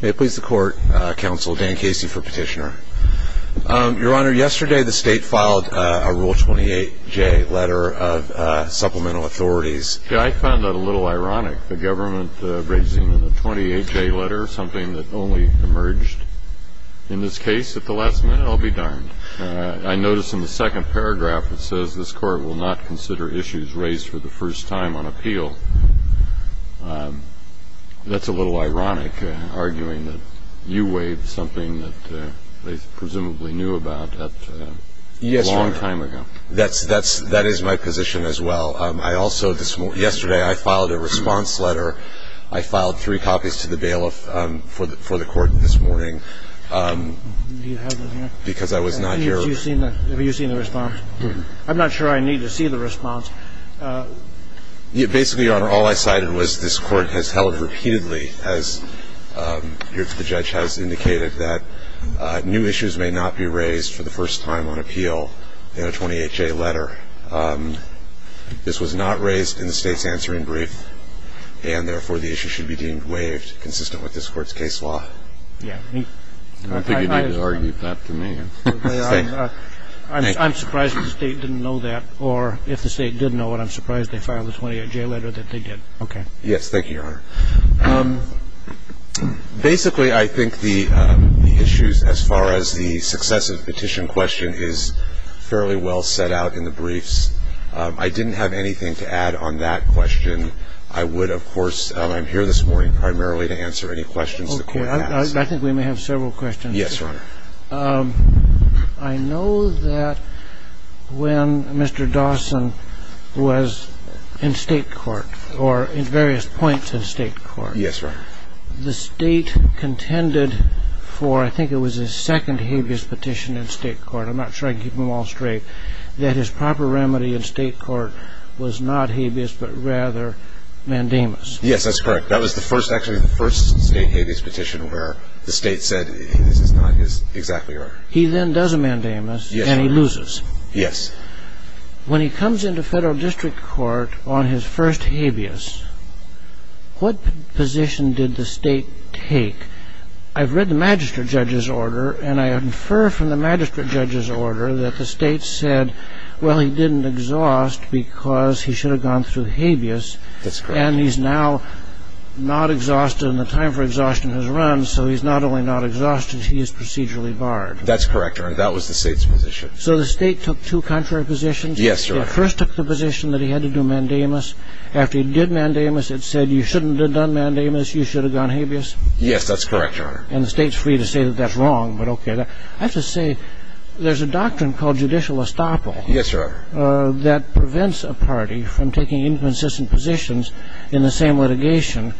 May it please the court, counsel, Dan Casey for petitioner. Your honor, yesterday the state filed a Rule 28J letter of supplemental authorities. I found that a little ironic, the government raising the 28J letter, something that only emerged in this case at the last minute. I'll be darned. I noticed in the second paragraph it says this court will not consider issues raised for the first time on appeal. That's a little ironic, arguing that you waived something that they presumably knew about a long time ago. Yes, your honor, that is my position as well. Yesterday I filed a response letter. I filed three copies to the bailiff for the court this morning because I was not here. Have you seen the response? I'm not sure I need to see the response. Basically, your honor, all I cited was this court has held repeatedly, as the judge has indicated, that new issues may not be raised for the first time on appeal in a 28J letter. This was not raised in the state's answering brief, and therefore the issue should be deemed waived, consistent with this court's case law. I don't think you need to argue that to me. I'm surprised the state didn't know that, or if the state did know it, I'm surprised they filed a 28J letter that they did. Okay. Yes, thank you, your honor. Basically, I think the issues as far as the successive petition question is fairly well set out in the briefs. I didn't have anything to add on that question. I would, of course, I'm here this morning primarily to answer any questions the court has. Okay. I think we may have several questions. Yes, your honor. I know that when Mr. Dawson was in state court or in various points in state court. Yes, your honor. The state contended for, I think it was his second habeas petition in state court, I'm not sure I can keep them all straight, that his proper remedy in state court was not habeas but rather mandamus. Yes, that's correct. That was actually the first state habeas petition where the state said this is not exactly right. He then does a mandamus and he loses. Yes. When he comes into federal district court on his first habeas, what position did the state take? I've read the magistrate judge's order and I infer from the magistrate judge's order that the state said, well, he didn't exhaust because he should have gone through habeas. That's correct. And he's now not exhausted and the time for exhaustion has run. So he's not only not exhausted, he is procedurally barred. That's correct, your honor. That was the state's position. So the state took two contrary positions? Yes, your honor. It first took the position that he had to do mandamus. After he did mandamus, it said you shouldn't have done mandamus, you should have gone habeas. Yes, that's correct, your honor. And the state's free to say that that's wrong, but okay. I have to say there's a doctrine called judicial estoppel. Yes, your honor. That prevents a party from taking inconsistent positions in the same litigation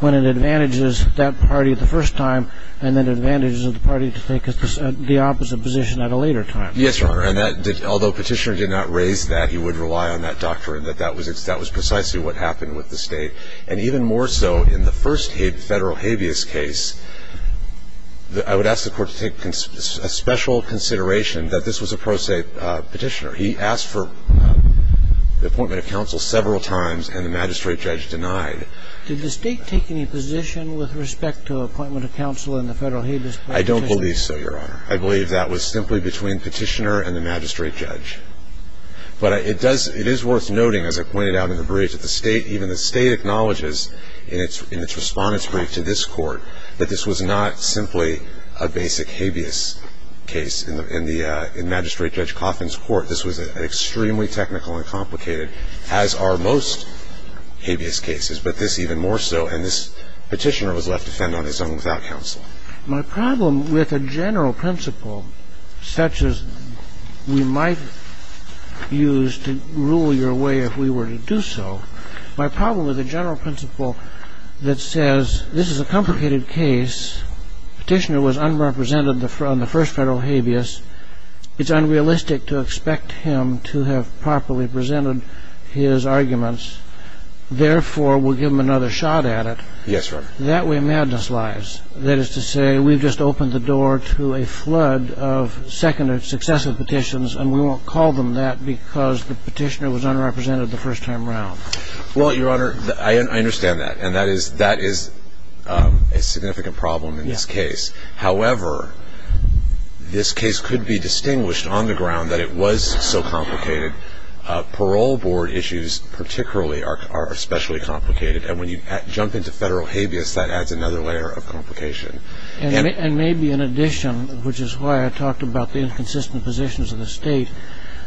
when it advantages that party the first time and then advantages the party to take the opposite position at a later time. Yes, your honor. And although Petitioner did not raise that, he would rely on that doctrine, that that was precisely what happened with the state. And even more so, in the first federal habeas case, I would ask the Court to take special consideration that this was a pro se Petitioner. He asked for the appointment of counsel several times, and the magistrate judge denied. Did the state take any position with respect to appointment of counsel in the federal habeas case? I don't believe so, your honor. I believe that was simply between Petitioner and the magistrate judge. But it is worth noting, as I pointed out in the brief that the state, even the state acknowledges in its respondent's brief to this Court, that this was not simply a basic habeas case. In the magistrate judge Coffin's court, this was an extremely technical and complicated, as are most habeas cases, but this even more so. And this Petitioner was left to fend on his own without counsel. My problem with a general principle such as we might use to rule your way if we were to do so, my problem with a general principle that says this is a complicated case, Petitioner was unrepresented on the first federal habeas. It's unrealistic to expect him to have properly presented his arguments. Therefore, we'll give him another shot at it. Yes, your honor. That way, madness lies. That is to say, we've just opened the door to a flood of successive petitions, and we won't call them that because the Petitioner was unrepresented the first time around. Well, your honor, I understand that. And that is a significant problem in this case. However, this case could be distinguished on the ground that it was so complicated. Parole board issues particularly are especially complicated, and when you jump into federal habeas, that adds another layer of complication. And maybe in addition, which is why I talked about the inconsistent positions of the state,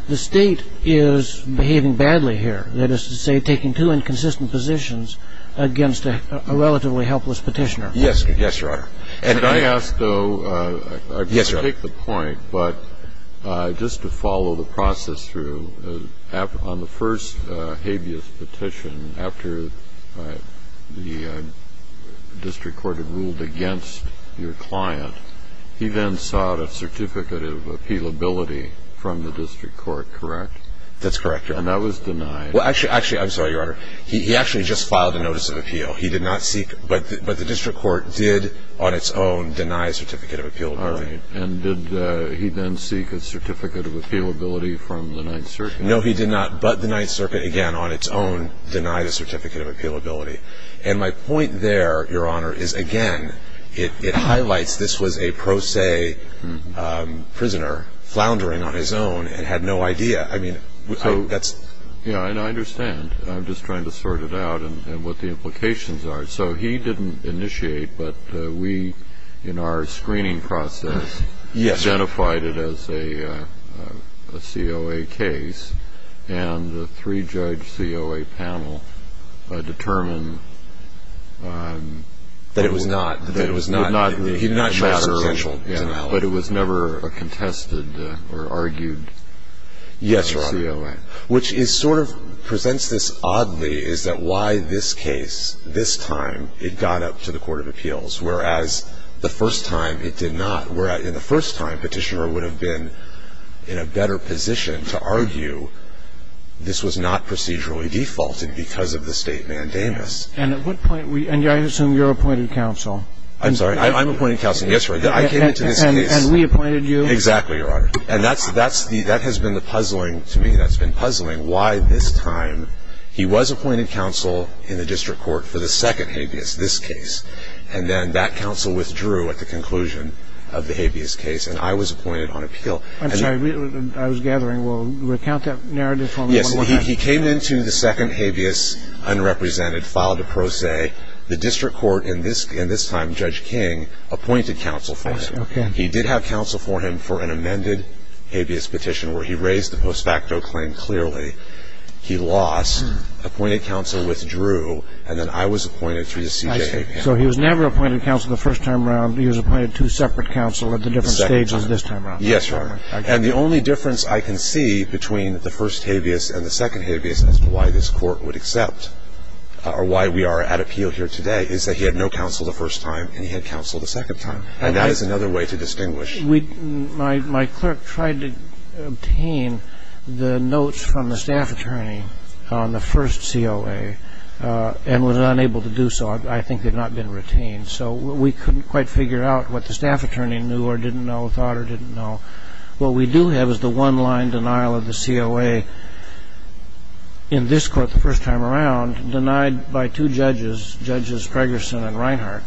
the state is behaving badly here. That is to say, taking two inconsistent positions against a relatively helpless Petitioner. Yes, your honor. And I ask, though, I take the point, but just to follow the process through, on the first habeas petition, after the district court had ruled against your client, he then sought a certificate of appealability from the district court, correct? That's correct, your honor. And that was denied. Well, actually, I'm sorry, your honor. He actually just filed a notice of appeal. He did not seek, but the district court did on its own deny a certificate of appealability. All right. And did he then seek a certificate of appealability from the Ninth Circuit? No, he did not. But the Ninth Circuit, again, on its own, denied a certificate of appealability. And my point there, your honor, is, again, it highlights this was a pro se prisoner floundering on his own and had no idea. I mean, that's. Yeah, and I understand. I'm just trying to sort it out and what the implications are. So he didn't initiate, but we, in our screening process, identified it as a COA case, and the three-judge COA panel determined. That it was not. That it was not. He did not show his potential. But it was never a contested or argued COA. Yes, your honor. Which sort of presents this oddly, is that why this case, this time, it got up to the Court of Appeals, whereas the first time it did not, whereas in the first time, Petitioner would have been in a better position to argue this was not procedurally defaulted because of the state mandamus. And at what point, and I assume you're appointed counsel. I'm sorry, I'm appointed counsel. Yes, sir. I came into this case. And we appointed you. Exactly, your honor. And that's the, that has been the puzzling, to me that's been puzzling, why this time he was appointed counsel in the district court for the second habeas, this case. And then that counsel withdrew at the conclusion of the habeas case, and I was appointed on appeal. I'm sorry, I was gathering, well, recount that narrative for me one more time. Yes, he came into the second habeas unrepresented, filed a pro se. I'm sorry, I'm sorry. He came into the district court. as to why this Court would accept or why we are at a peak of the second habeas, is that the district court, in this time, Judge King, appointed counsel for him. He did have counsel for him for an amended habeas petition where he raised the post facto claim clearly. He lost. Appointed counsel withdrew. And then I was appointed through the CJA panel. So he was never appointed counsel the first time around. He was appointed two separate counsel at the different stages this time around. Yes, your honor. And the only difference I can see between the first habeas and the second habeas, as to why this Court would accept or why we are at appeal here today, is that he had no counsel the first time and he had counsel the second time. And that is another way to distinguish. My clerk tried to obtain the notes from the staff attorney on the first COA and was unable to do so. I think they've not been retained. So we couldn't quite figure out what the staff attorney knew or didn't know, thought or didn't know. What we do have is the one-line denial of the COA in this Court the first time around, denied by two judges, Judges Gregerson and Reinhart,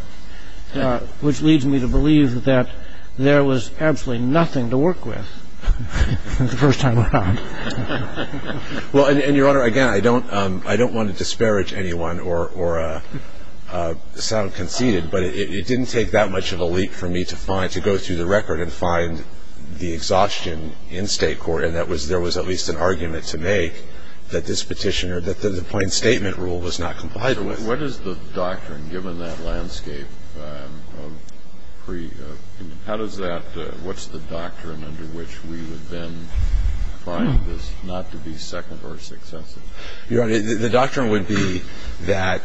which leads me to believe that there was absolutely nothing to work with the first time around. Well, and your honor, again, I don't want to disparage anyone or sound conceited, but it didn't take that much of a leap for me to go through the record and find the exhaustion in State court, and that was there was at least an argument to make that this petition or that the plain statement rule was not compliant with. What is the doctrine, given that landscape of pre- How does that, what's the doctrine under which we would then find this not to be second or successive? Your Honor, the doctrine would be that,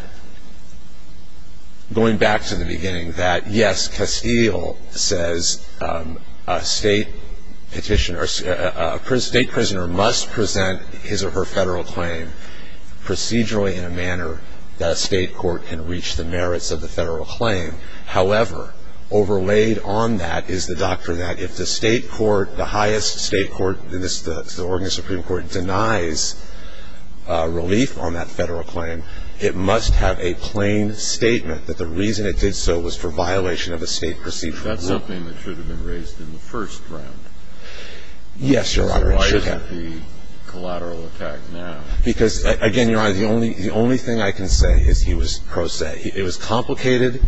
going back to the beginning, that yes, Castile says a State petitioner, a State prisoner must present his or her Federal claim procedurally in a manner that a State court can reach the merits of the Federal claim. However, overlaid on that is the doctrine that if the State court, the highest State court in this, the Oregon Supreme Court, denies relief on that Federal claim, it must have a plain statement that the reason it did so was for violation of a State procedural rule. Is that something that should have been raised in the first round? Yes, Your Honor, it should have. Why isn't the collateral attack now? Because, again, Your Honor, the only thing I can say is he was pro se. It was complicated.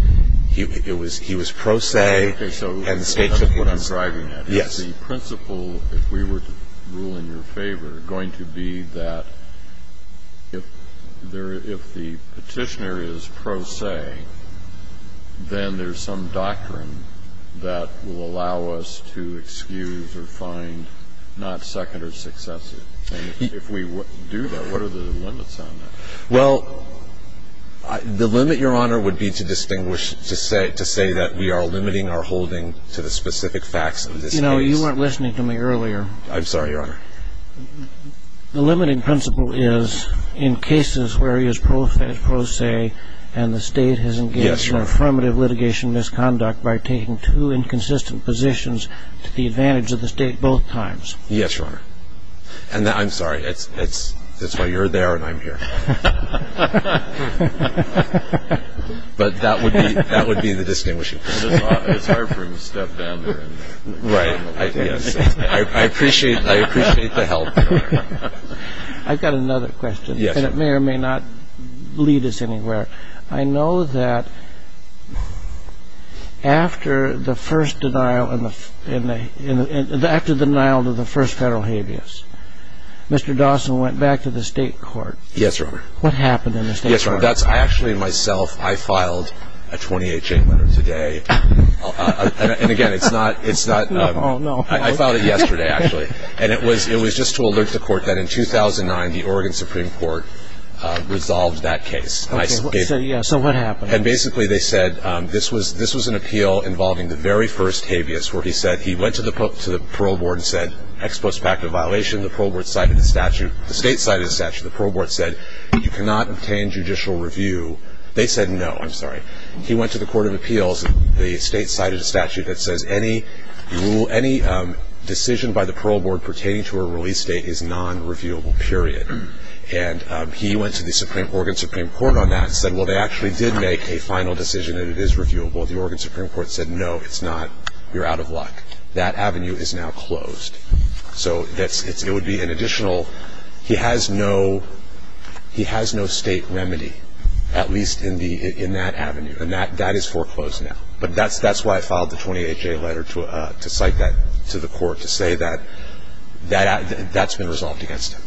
He was pro se. And the State took what he was driving at. Yes. The principle, if we were to rule in your favor, going to be that if the Petitioner is pro se, then there's some doctrine that will allow us to excuse or find not second or successive. And if we do that, what are the limits on that? Well, the limit, Your Honor, would be to distinguish, to say that we are limiting our holding to the specific facts of this case. You know, you weren't listening to me earlier. I'm sorry, Your Honor. The limiting principle is in cases where he is pro se and the State has engaged in affirmative litigation misconduct by taking two inconsistent positions to the advantage of the State both times. Yes, Your Honor. And I'm sorry. That's why you're there and I'm here. But that would be the distinguishing principle. It's hard for him to step down there and resign. Right. I appreciate the help, Your Honor. I've got another question, and it may or may not lead us anywhere. I know that after the first denial of the first federal habeas, Mr. Dawson went back to the State court. Yes, Your Honor. What happened in the State court? Yes, Your Honor. That's actually myself. I filed a 28-chain letter today. And, again, it's not ñ I filed it yesterday, actually. And it was just to alert the court that in 2009 the Oregon Supreme Court resolved that case. Okay. So what happened? And, basically, they said this was an appeal involving the very first habeas where he said he went to the parole board and said, ex post pact of violation, the parole board cited the statute. The State cited the statute. The parole board said you cannot obtain judicial review. They said no. I'm sorry. He went to the court of appeals. The State cited a statute that says any decision by the parole board pertaining to a release date is non-reviewable, period. And he went to the Oregon Supreme Court on that and said, well, they actually did make a final decision, and it is reviewable. The Oregon Supreme Court said, no, it's not. You're out of luck. That avenue is now closed. So it would be an additional ñ he has no State remedy, at least in that avenue. And that is foreclosed now. But that's why I filed the 28-chain letter to cite that to the court, to say that that's been resolved against him.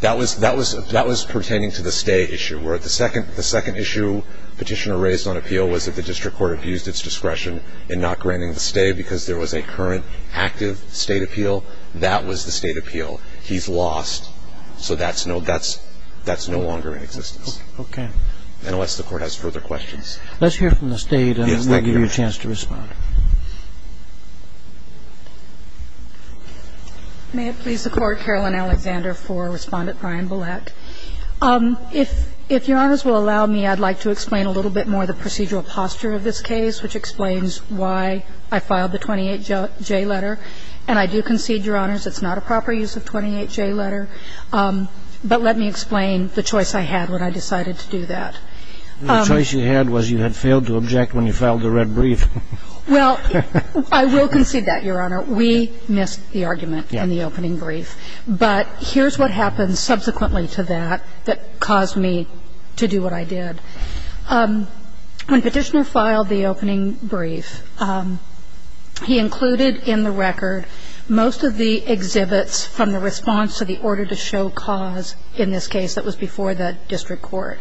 That was pertaining to the stay issue, where the second issue Petitioner raised on appeal was that the district court abused its discretion in not granting the stay because there was a current active State appeal. That was the State appeal. He's lost. So that's no ñ that's no longer in existence. Okay. Unless the Court has further questions. Let's hear from the State. Yes, thank you. I'll give you a chance to respond. May it please the Court, Caroline Alexander for Respondent Brian Bullock. If Your Honors will allow me, I'd like to explain a little bit more the procedural posture of this case, which explains why I filed the 28-J letter. And I do concede, Your Honors, it's not a proper use of 28-J letter. But let me explain the choice I had when I decided to do that. The choice you had was you had failed to object when you filed the red brief. Well, I will concede that, Your Honor. We missed the argument in the opening brief. But here's what happened subsequently to that that caused me to do what I did. When Petitioner filed the opening brief, he included in the record most of the exhibits from the response to the order to show cause in this case that was before the district court.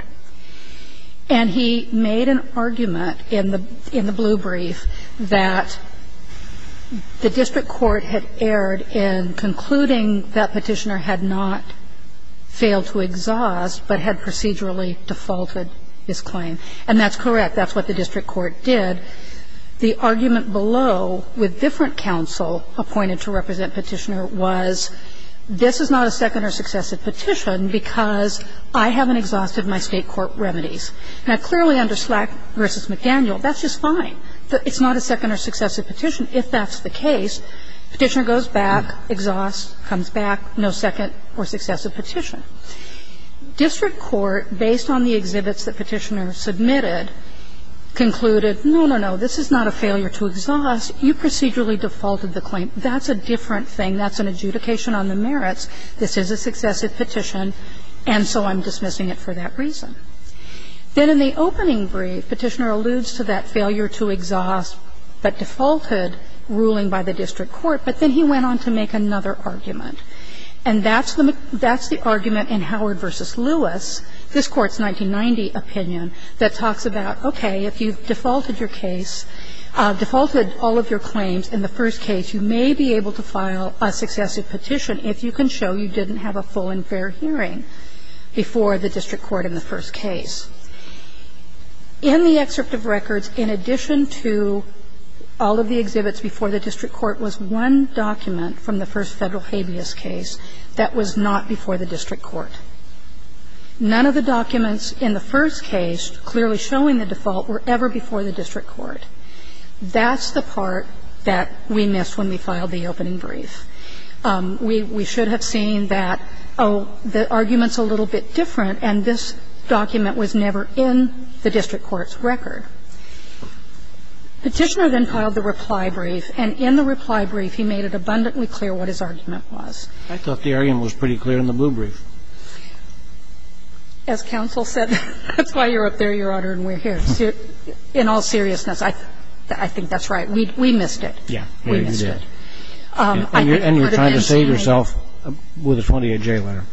And he made an argument in the blue brief that the district court had erred in concluding that Petitioner had not failed to exhaust but had procedurally defaulted his claim. And that's correct. That's what the district court did. The argument below with different counsel appointed to represent Petitioner was this is not a second or successive petition because I haven't exhausted my State court remedies. Now, clearly under Slack v. McDaniel, that's just fine. It's not a second or successive petition if that's the case. Petitioner goes back, exhausts, comes back, no second or successive petition. District court, based on the exhibits that Petitioner submitted, concluded, no, no, no, this is not a failure to exhaust. You procedurally defaulted the claim. That's a different thing. That's an adjudication on the merits. This is a successive petition, and so I'm dismissing it for that reason. Then in the opening brief, Petitioner alludes to that failure to exhaust but defaulted ruling by the district court, but then he went on to make another argument. And that's the argument in Howard v. Lewis, this Court's 1990 opinion, that talks about, okay, if you defaulted your case, defaulted all of your claims in the first case, you may be able to file a successive petition if you can show you didn't have a full and fair hearing before the district court in the first case. In the excerpt of records, in addition to all of the exhibits before the district court was one document from the first Federal habeas case that was not before the district court. None of the documents in the first case clearly showing the default were ever before the district court. That's the part that we missed when we filed the opening brief. We should have seen that, oh, the argument's a little bit different, and this document was never in the district court's record. Petitioner then filed the reply brief, and in the reply brief he made it abundantly clear what his argument was. I thought the argument was pretty clear in the blue brief. As counsel said, that's why you're up there, Your Honor, and we're here. In all seriousness, I think that's right. We missed it. Yeah. We missed it. And you're trying to save yourself with a 28-J letter.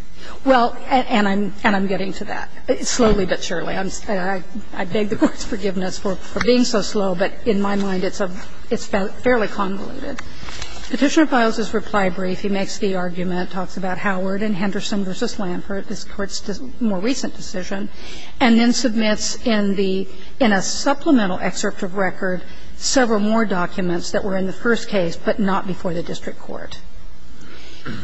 Well, and I'm getting to that, slowly but surely. I beg the Court's forgiveness for being so slow, but in my mind it's fairly convoluted. Petitioner files this reply brief, he makes the argument, talks about Howard and Henderson v. Lampert, this Court's more recent decision, and then submits in the – in a supplemental excerpt of record several more documents that were in the first case but not before the district court.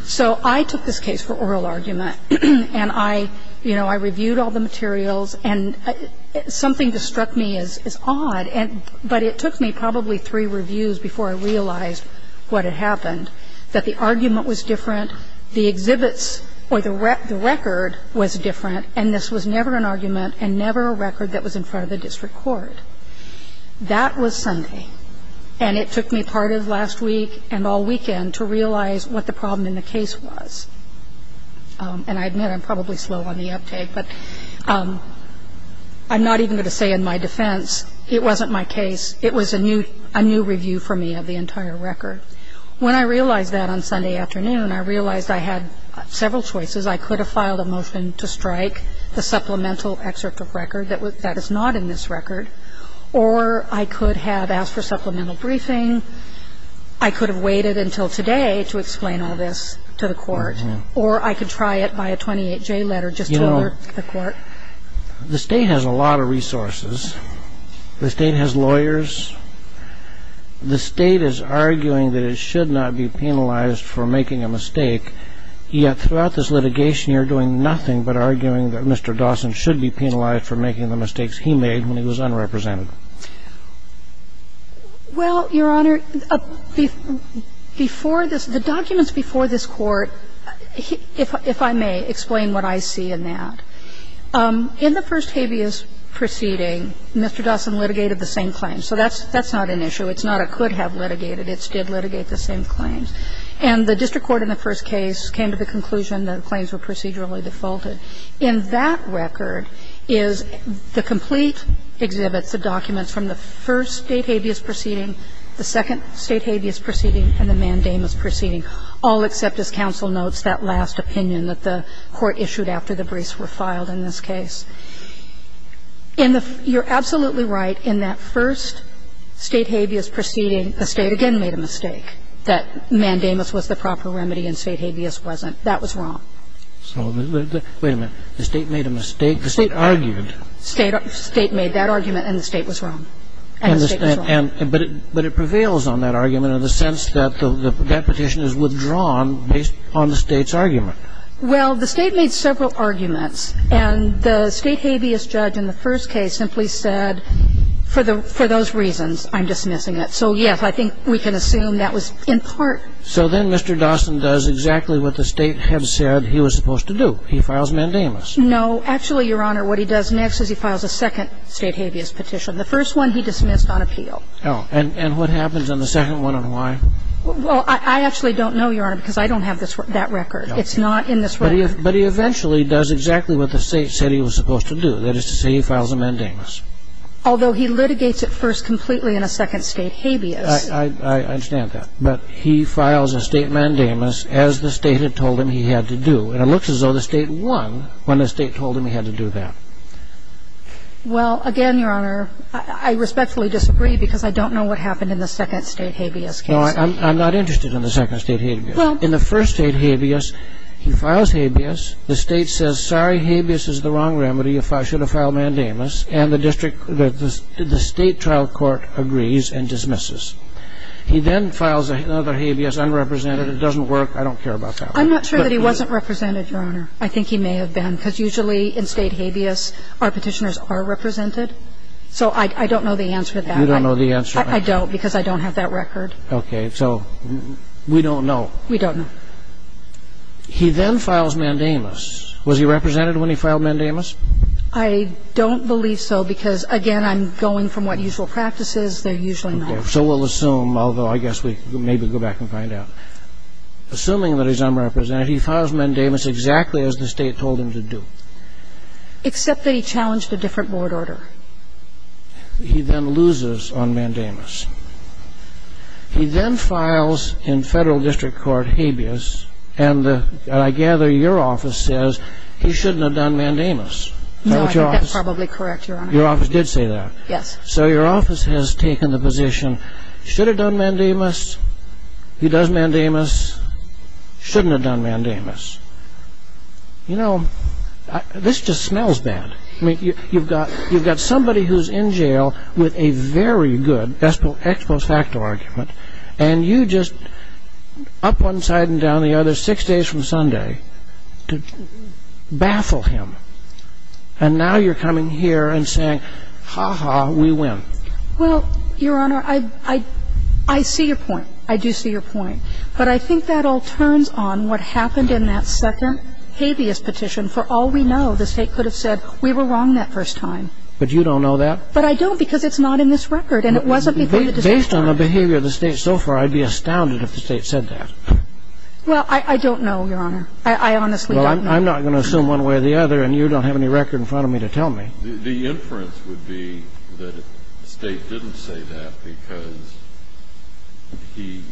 So I took this case for oral argument, and I, you know, I reviewed all the materials, and something just struck me as odd. But it took me probably three reviews before I realized what had happened, that the argument was different, the exhibits or the record was different, and this was never an argument and never a record that was in front of the district court. That was Sunday, and it took me part of last week and all weekend to realize what the problem in the case was. And I admit I'm probably slow on the uptake, but I'm not even going to say in my defense it wasn't my case. It was a new review for me of the entire record. When I realized that on Sunday afternoon, I realized I had several choices. I could have filed a motion to strike the supplemental excerpt of record that is not in this record, or I could have asked for supplemental briefing. I could have waited until today to explain all this to the court, or I could try it by a 28-J letter just to alert the court. The state has a lot of resources. The state has lawyers. The state is arguing that it should not be penalized for making a mistake, yet throughout this litigation, you're doing nothing but arguing that Mr. Dawson should be penalized for making the mistakes he made when he was unrepresented. Why is that? Why is that the reason for this whole issue? Well, Your Honor, before this ‑‑ the documents before this court, if I may explain what I see in that. In the first habeas proceeding, Mr. Dawson litigated the same claim. So that's not an issue. It's not a could have litigated. It's did litigate the same claims. And the district court in the first case came to the conclusion that the claims were procedurally defaulted. In that record is the complete exhibits, the documents from the first state habeas proceeding, the second state habeas proceeding, and the mandamus proceeding, all except as counsel notes that last opinion that the court issued after the briefs were filed in this case. You're absolutely right. In that first state habeas proceeding, the state again made a mistake, that mandamus was the proper remedy and state habeas wasn't. That was wrong. So the ‑‑ wait a minute. The state made a mistake? The state argued. State made that argument, and the state was wrong. And the state was wrong. But it prevails on that argument in the sense that that petition is withdrawn based on the state's argument. Well, the state made several arguments. And the state habeas judge in the first case simply said, for those reasons, I'm dismissing it. So, yes, I think we can assume that was in part. So then Mr. Dawson does exactly what the state had said he was supposed to do. He files mandamus. No. Actually, Your Honor, what he does next is he files a second state habeas petition. The first one he dismissed on appeal. Oh. And what happens on the second one and why? Well, I actually don't know, Your Honor, because I don't have that record. It's not in this record. But he eventually does exactly what the state said he was supposed to do. That is to say, he files a mandamus. Although he litigates it first completely in a second state habeas. I understand that. But he files a state mandamus as the state had told him he had to do. And it looks as though the state won when the state told him he had to do that. Well, again, Your Honor, I respectfully disagree because I don't know what happened in the second state habeas case. No, I'm not interested in the second state habeas. In the first state habeas, he files habeas. The state says, sorry, habeas is the wrong remedy, you should have filed mandamus. And the district, the state trial court agrees and dismisses. He then files another habeas, unrepresented. It doesn't work. I don't care about that one. I'm not sure that he wasn't represented, Your Honor. I think he may have been because usually in state habeas, our petitioners are represented. So I don't know the answer to that. You don't know the answer to that. I don't because I don't have that record. Okay. So we don't know. We don't know. He then files mandamus. Was he represented when he filed mandamus? I don't believe so because, again, I'm going from what usual practice is. They're usually not. Okay. So we'll assume, although I guess we can maybe go back and find out. Assuming that he's unrepresented, he files mandamus exactly as the state told him to do. Except that he challenged a different board order. He then loses on mandamus. He then files in federal district court habeas. And I gather your office says he shouldn't have done mandamus. No, I think that's probably correct, Your Honor. Your office did say that. Yes. So your office has taken the position, should have done mandamus. He does mandamus. Shouldn't have done mandamus. You know, this just smells bad. I mean, you've got somebody who's in jail with a very good ex post facto argument, and you just up one side and down the other six days from Sunday to baffle him. And now you're coming here and saying, ha-ha, we win. Well, Your Honor, I see your point. I do see your point. But I think that all turns on what happened in that second habeas petition. And I think that's a case that could have been solved, and for all we know, the State could have said we were wrong that first time. But you don't know that? But I don't, because it's not in this record. And it wasn't before the decision was made. Based on the behavior of the State so far, I'd be astounded if the State said that. Well, I don't know, Your Honor. I honestly don't know. Well, I'm not going to assume one way or the other, and you don't have any record in front of me to tell me. The inference would be that the State didn't say that because he,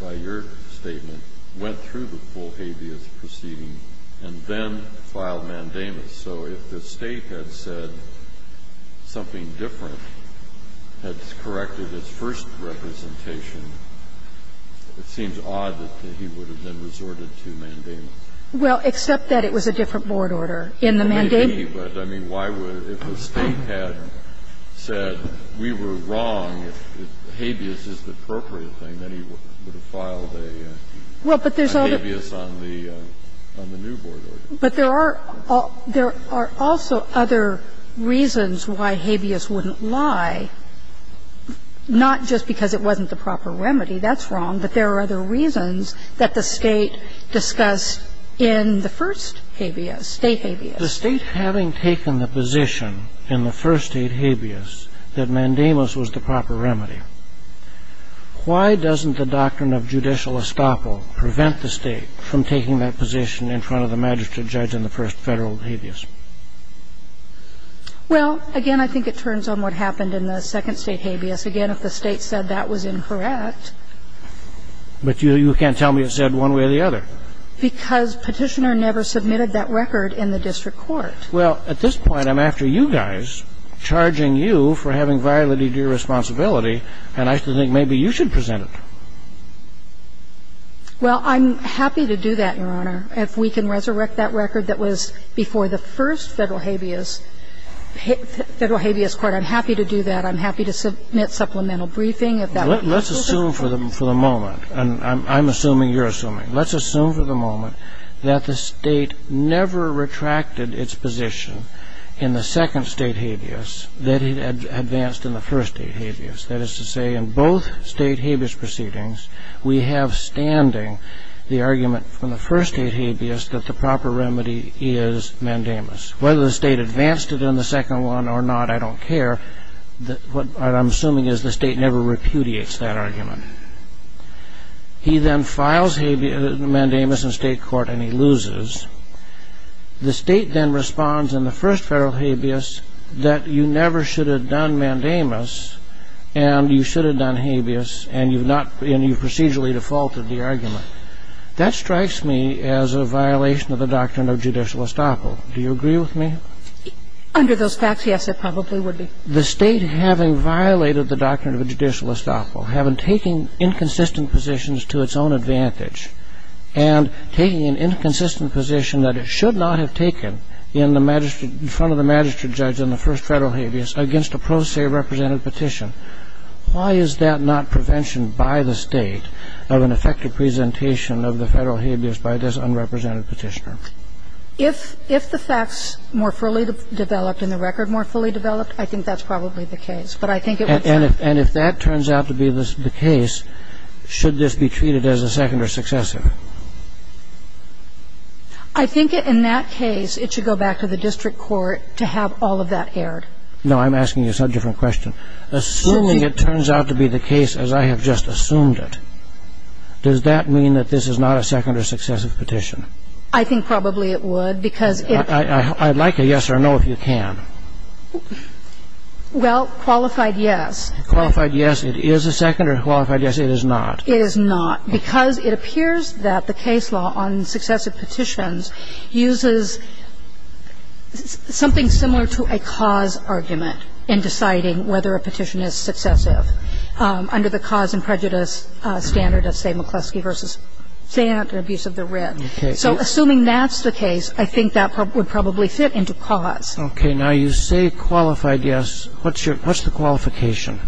by your statement, went through the full habeas proceeding and then filed mandamus. So if the State had said something different, had corrected its first representation, it seems odd that he would have then resorted to mandamus. Well, except that it was a different board order in the mandamus. But I mean, why would, if the State had said we were wrong, that habeas is the appropriate thing, then he would have filed a habeas on the new board order. But there are also other reasons why habeas wouldn't lie, not just because it wasn't the proper remedy. That's wrong. But there are other reasons that the State discussed in the first habeas, State habeas. But the State having taken the position in the first State habeas that mandamus was the proper remedy, why doesn't the doctrine of judicial estoppel prevent the State from taking that position in front of the magistrate judge in the first Federal habeas? Well, again, I think it turns on what happened in the second State habeas. Again, if the State said that was incorrect. But you can't tell me it said one way or the other. I mean, why? Because Petitioner never submitted that record in the district court. Well, at this point, I'm after you guys, charging you for having violated your responsibility, and I think maybe you should present it. Well, I'm happy to do that, Your Honor, if we can resurrect that record that was before the first Federal habeas, Federal habeas court, I'm happy to do that. I'm happy to submit supplemental briefing if that would be necessary. Let's assume for the moment, and I'm assuming you're assuming, let's assume for the moment that the State never retracted its position in the second State habeas that it advanced in the first State habeas. That is to say, in both State habeas proceedings, we have standing the argument from the first State habeas that the proper remedy is mandamus. Whether the State advanced it in the second one or not, I don't care. What I'm assuming is the State never repudiates that argument. He then files mandamus in State court, and he loses. The State then responds in the first Federal habeas that you never should have done mandamus, and you should have done habeas, and you've procedurally defaulted the argument. That strikes me as a violation of the doctrine of judicial estoppel. Do you agree with me? Under those facts, yes, it probably would be. The State having violated the doctrine of judicial estoppel, having taken inconsistent positions to its own advantage, and taking an inconsistent position that it should not have taken in the magistrate, in front of the magistrate judge in the first Federal habeas against a pro se represented petition, why is that not prevention by the State of an effective presentation of the Federal habeas by this unrepresented petitioner? If the facts more fully developed and the record more fully developed, I think that's probably the case. But I think it would be. And if that turns out to be the case, should this be treated as a second or successive? I think in that case, it should go back to the district court to have all of that aired. No, I'm asking you a different question. Assuming it turns out to be the case as I have just assumed it, does that mean that this is not a second or successive petition? I think probably it would, because it's not. I'd like a yes or no if you can. Well, qualified yes. Qualified yes, it is a second or qualified yes, it is not. It is not, because it appears that the case law on successive petitions uses something similar to a cause argument in deciding whether a petition is successive. And if I'm right, then it's a third or a fourth under the cause and prejudice standard of, say, McCluskey v. Sant and abuse of the writ. So assuming that's the case, I think that would probably fit into cause. Okay. Now, you say qualified yes. What's your ‑‑ what's the qualification?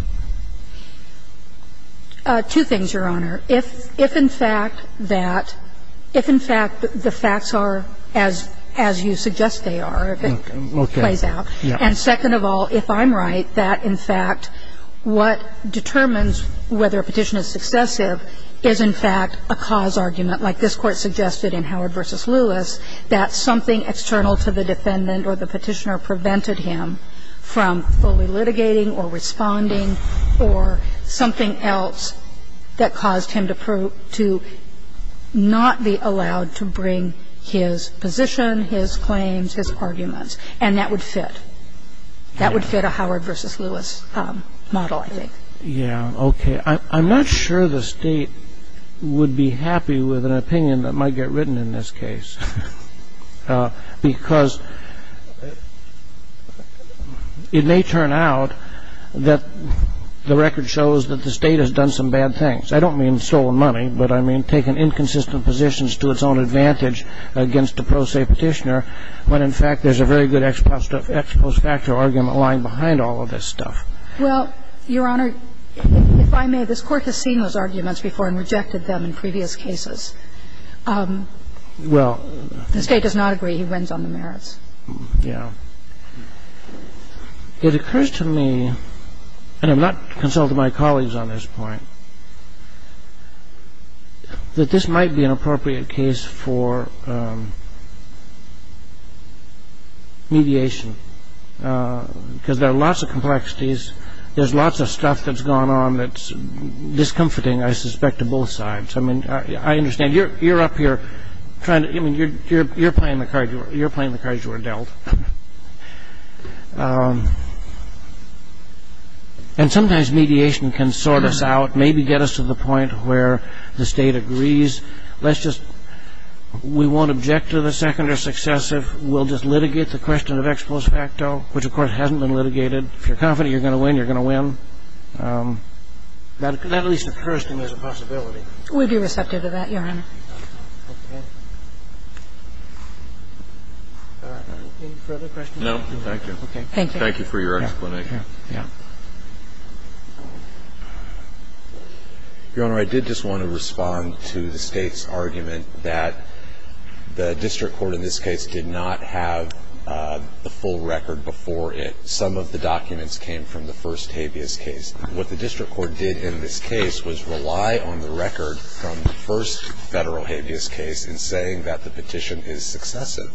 Two things, Your Honor. If in fact that ‑‑ if in fact the facts are as you suggest they are, if it plays out. Okay. Yeah. And second of all, if I'm right, that in fact what determines whether a petition is successive is in fact a cause argument, like this Court suggested in Howard v. Lewis, that something external to the defendant or the petitioner prevented him from fully litigating or responding or something else that caused him to not be allowed to bring his position, his claims, his arguments. And that would fit. That would fit a Howard v. Lewis model, I think. Yeah. Okay. I'm not sure the State would be happy with an opinion that might get written in this It may turn out that the record shows that the State has done some bad things. I don't mean stolen money, but I mean taken inconsistent positions to its own advantage against a pro se petitioner, when in fact there's a very good ex post facto argument lying behind all of this stuff. Well, Your Honor, if I may, this Court has seen those arguments before and rejected them in previous cases. Well ‑‑ The State does not agree. He wins on the merits. Yeah. It occurs to me, and I'm not consulting my colleagues on this point, that this might be an appropriate case for mediation, because there are lots of complexities. There's lots of stuff that's gone on that's discomforting, I suspect, to both sides. I mean, I understand. You're up here trying to ‑‑ I mean, you're playing the cards you were dealt. And sometimes mediation can sort us out, maybe get us to the point where the State agrees. Let's just ‑‑ we won't object to the second or successive. We'll just litigate the question of ex post facto, which, of course, hasn't been litigated. If you're confident you're going to win, you're going to win. That at least occurs to me as a possibility. We'd be receptive to that, Your Honor. Okay. Any further questions? No. Thank you. Okay. Thank you. Thank you for your explanation. Yeah. Yeah. Your Honor, I did just want to respond to the State's argument that the district court in this case did not have the full record before it. Some of the documents came from the first habeas case. What the district court did in this case was rely on the record from the first federal habeas case in saying that the petition is successive.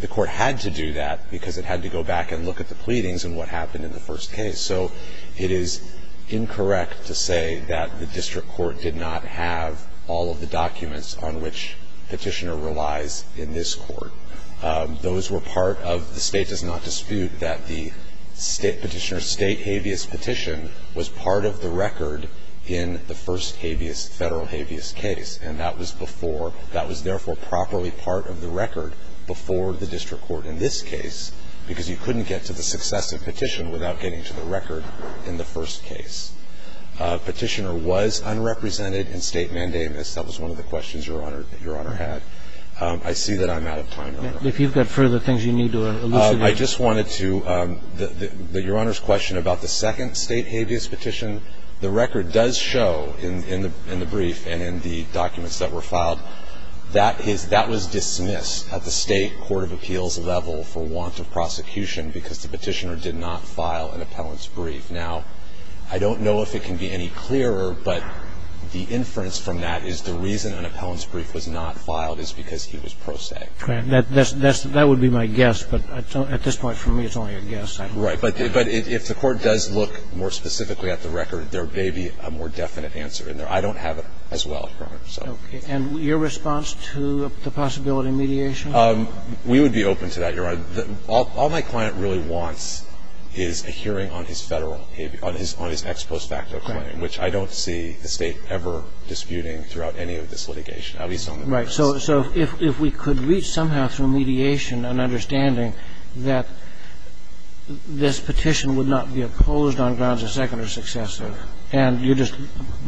The court had to do that because it had to go back and look at the pleadings and what happened in the first case. So it is incorrect to say that the district court did not have all of the documents on which Petitioner relies in this court. Those were part of the State does not dispute that the Petitioner's State habeas petition was part of the record in the first habeas, federal habeas case. And that was before. That was therefore properly part of the record before the district court in this case because you couldn't get to the successive petition without getting to the record in the first case. Petitioner was unrepresented in State mandamus. That was one of the questions Your Honor had. I see that I'm out of time, Your Honor. If you've got further things you need to elucidate. I just wanted to, Your Honor's question about the second State habeas petition, the record does show in the brief and in the documents that were filed that that was dismissed at the State court of appeals level for want of prosecution because the Petitioner did not file an appellant's brief. Now, I don't know if it can be any clearer, but the inference from that is the reason that an appellant's brief was not filed is because he was pro se. That would be my guess, but at this point for me it's only a guess. Right. But if the court does look more specifically at the record, there may be a more definite answer in there. I don't have it as well, Your Honor. Okay. And your response to the possibility of mediation? We would be open to that, Your Honor. All my client really wants is a hearing on his federal habeas, on his ex post facto claim, which I don't see the State ever disputing throughout any of this litigation, at least on the first. Right. So if we could reach somehow through mediation an understanding that this petition would not be opposed on grounds of second or successive, and you just,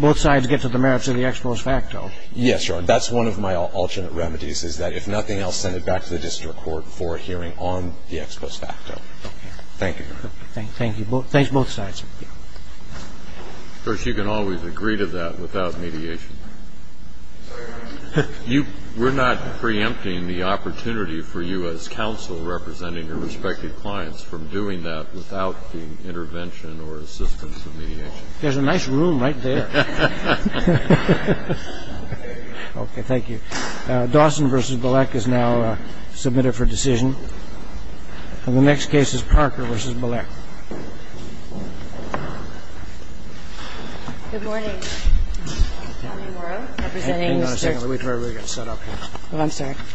both sides get to the merits of the ex post facto. Yes, Your Honor. That's one of my alternate remedies, is that if nothing else, send it back to the district court for a hearing on the ex post facto. Thank you, Your Honor. Thank you. Thanks both sides. We have one more question. Thank you. Sir, you can always agree to that without mediation. We're not preempting the opportunity for you, as counsel representing the respective clients, from doing that without the intervention or assistance of mediation. There's a nice room right there. Okay. Thank you. Dawson v. Bilek is now submitted for decision. And the next case is Parker v. Bilek. Good morning. Good morning, Morrow. Representing Mr. Hang on a second. We've already got set up here. I'm sorry. Okay.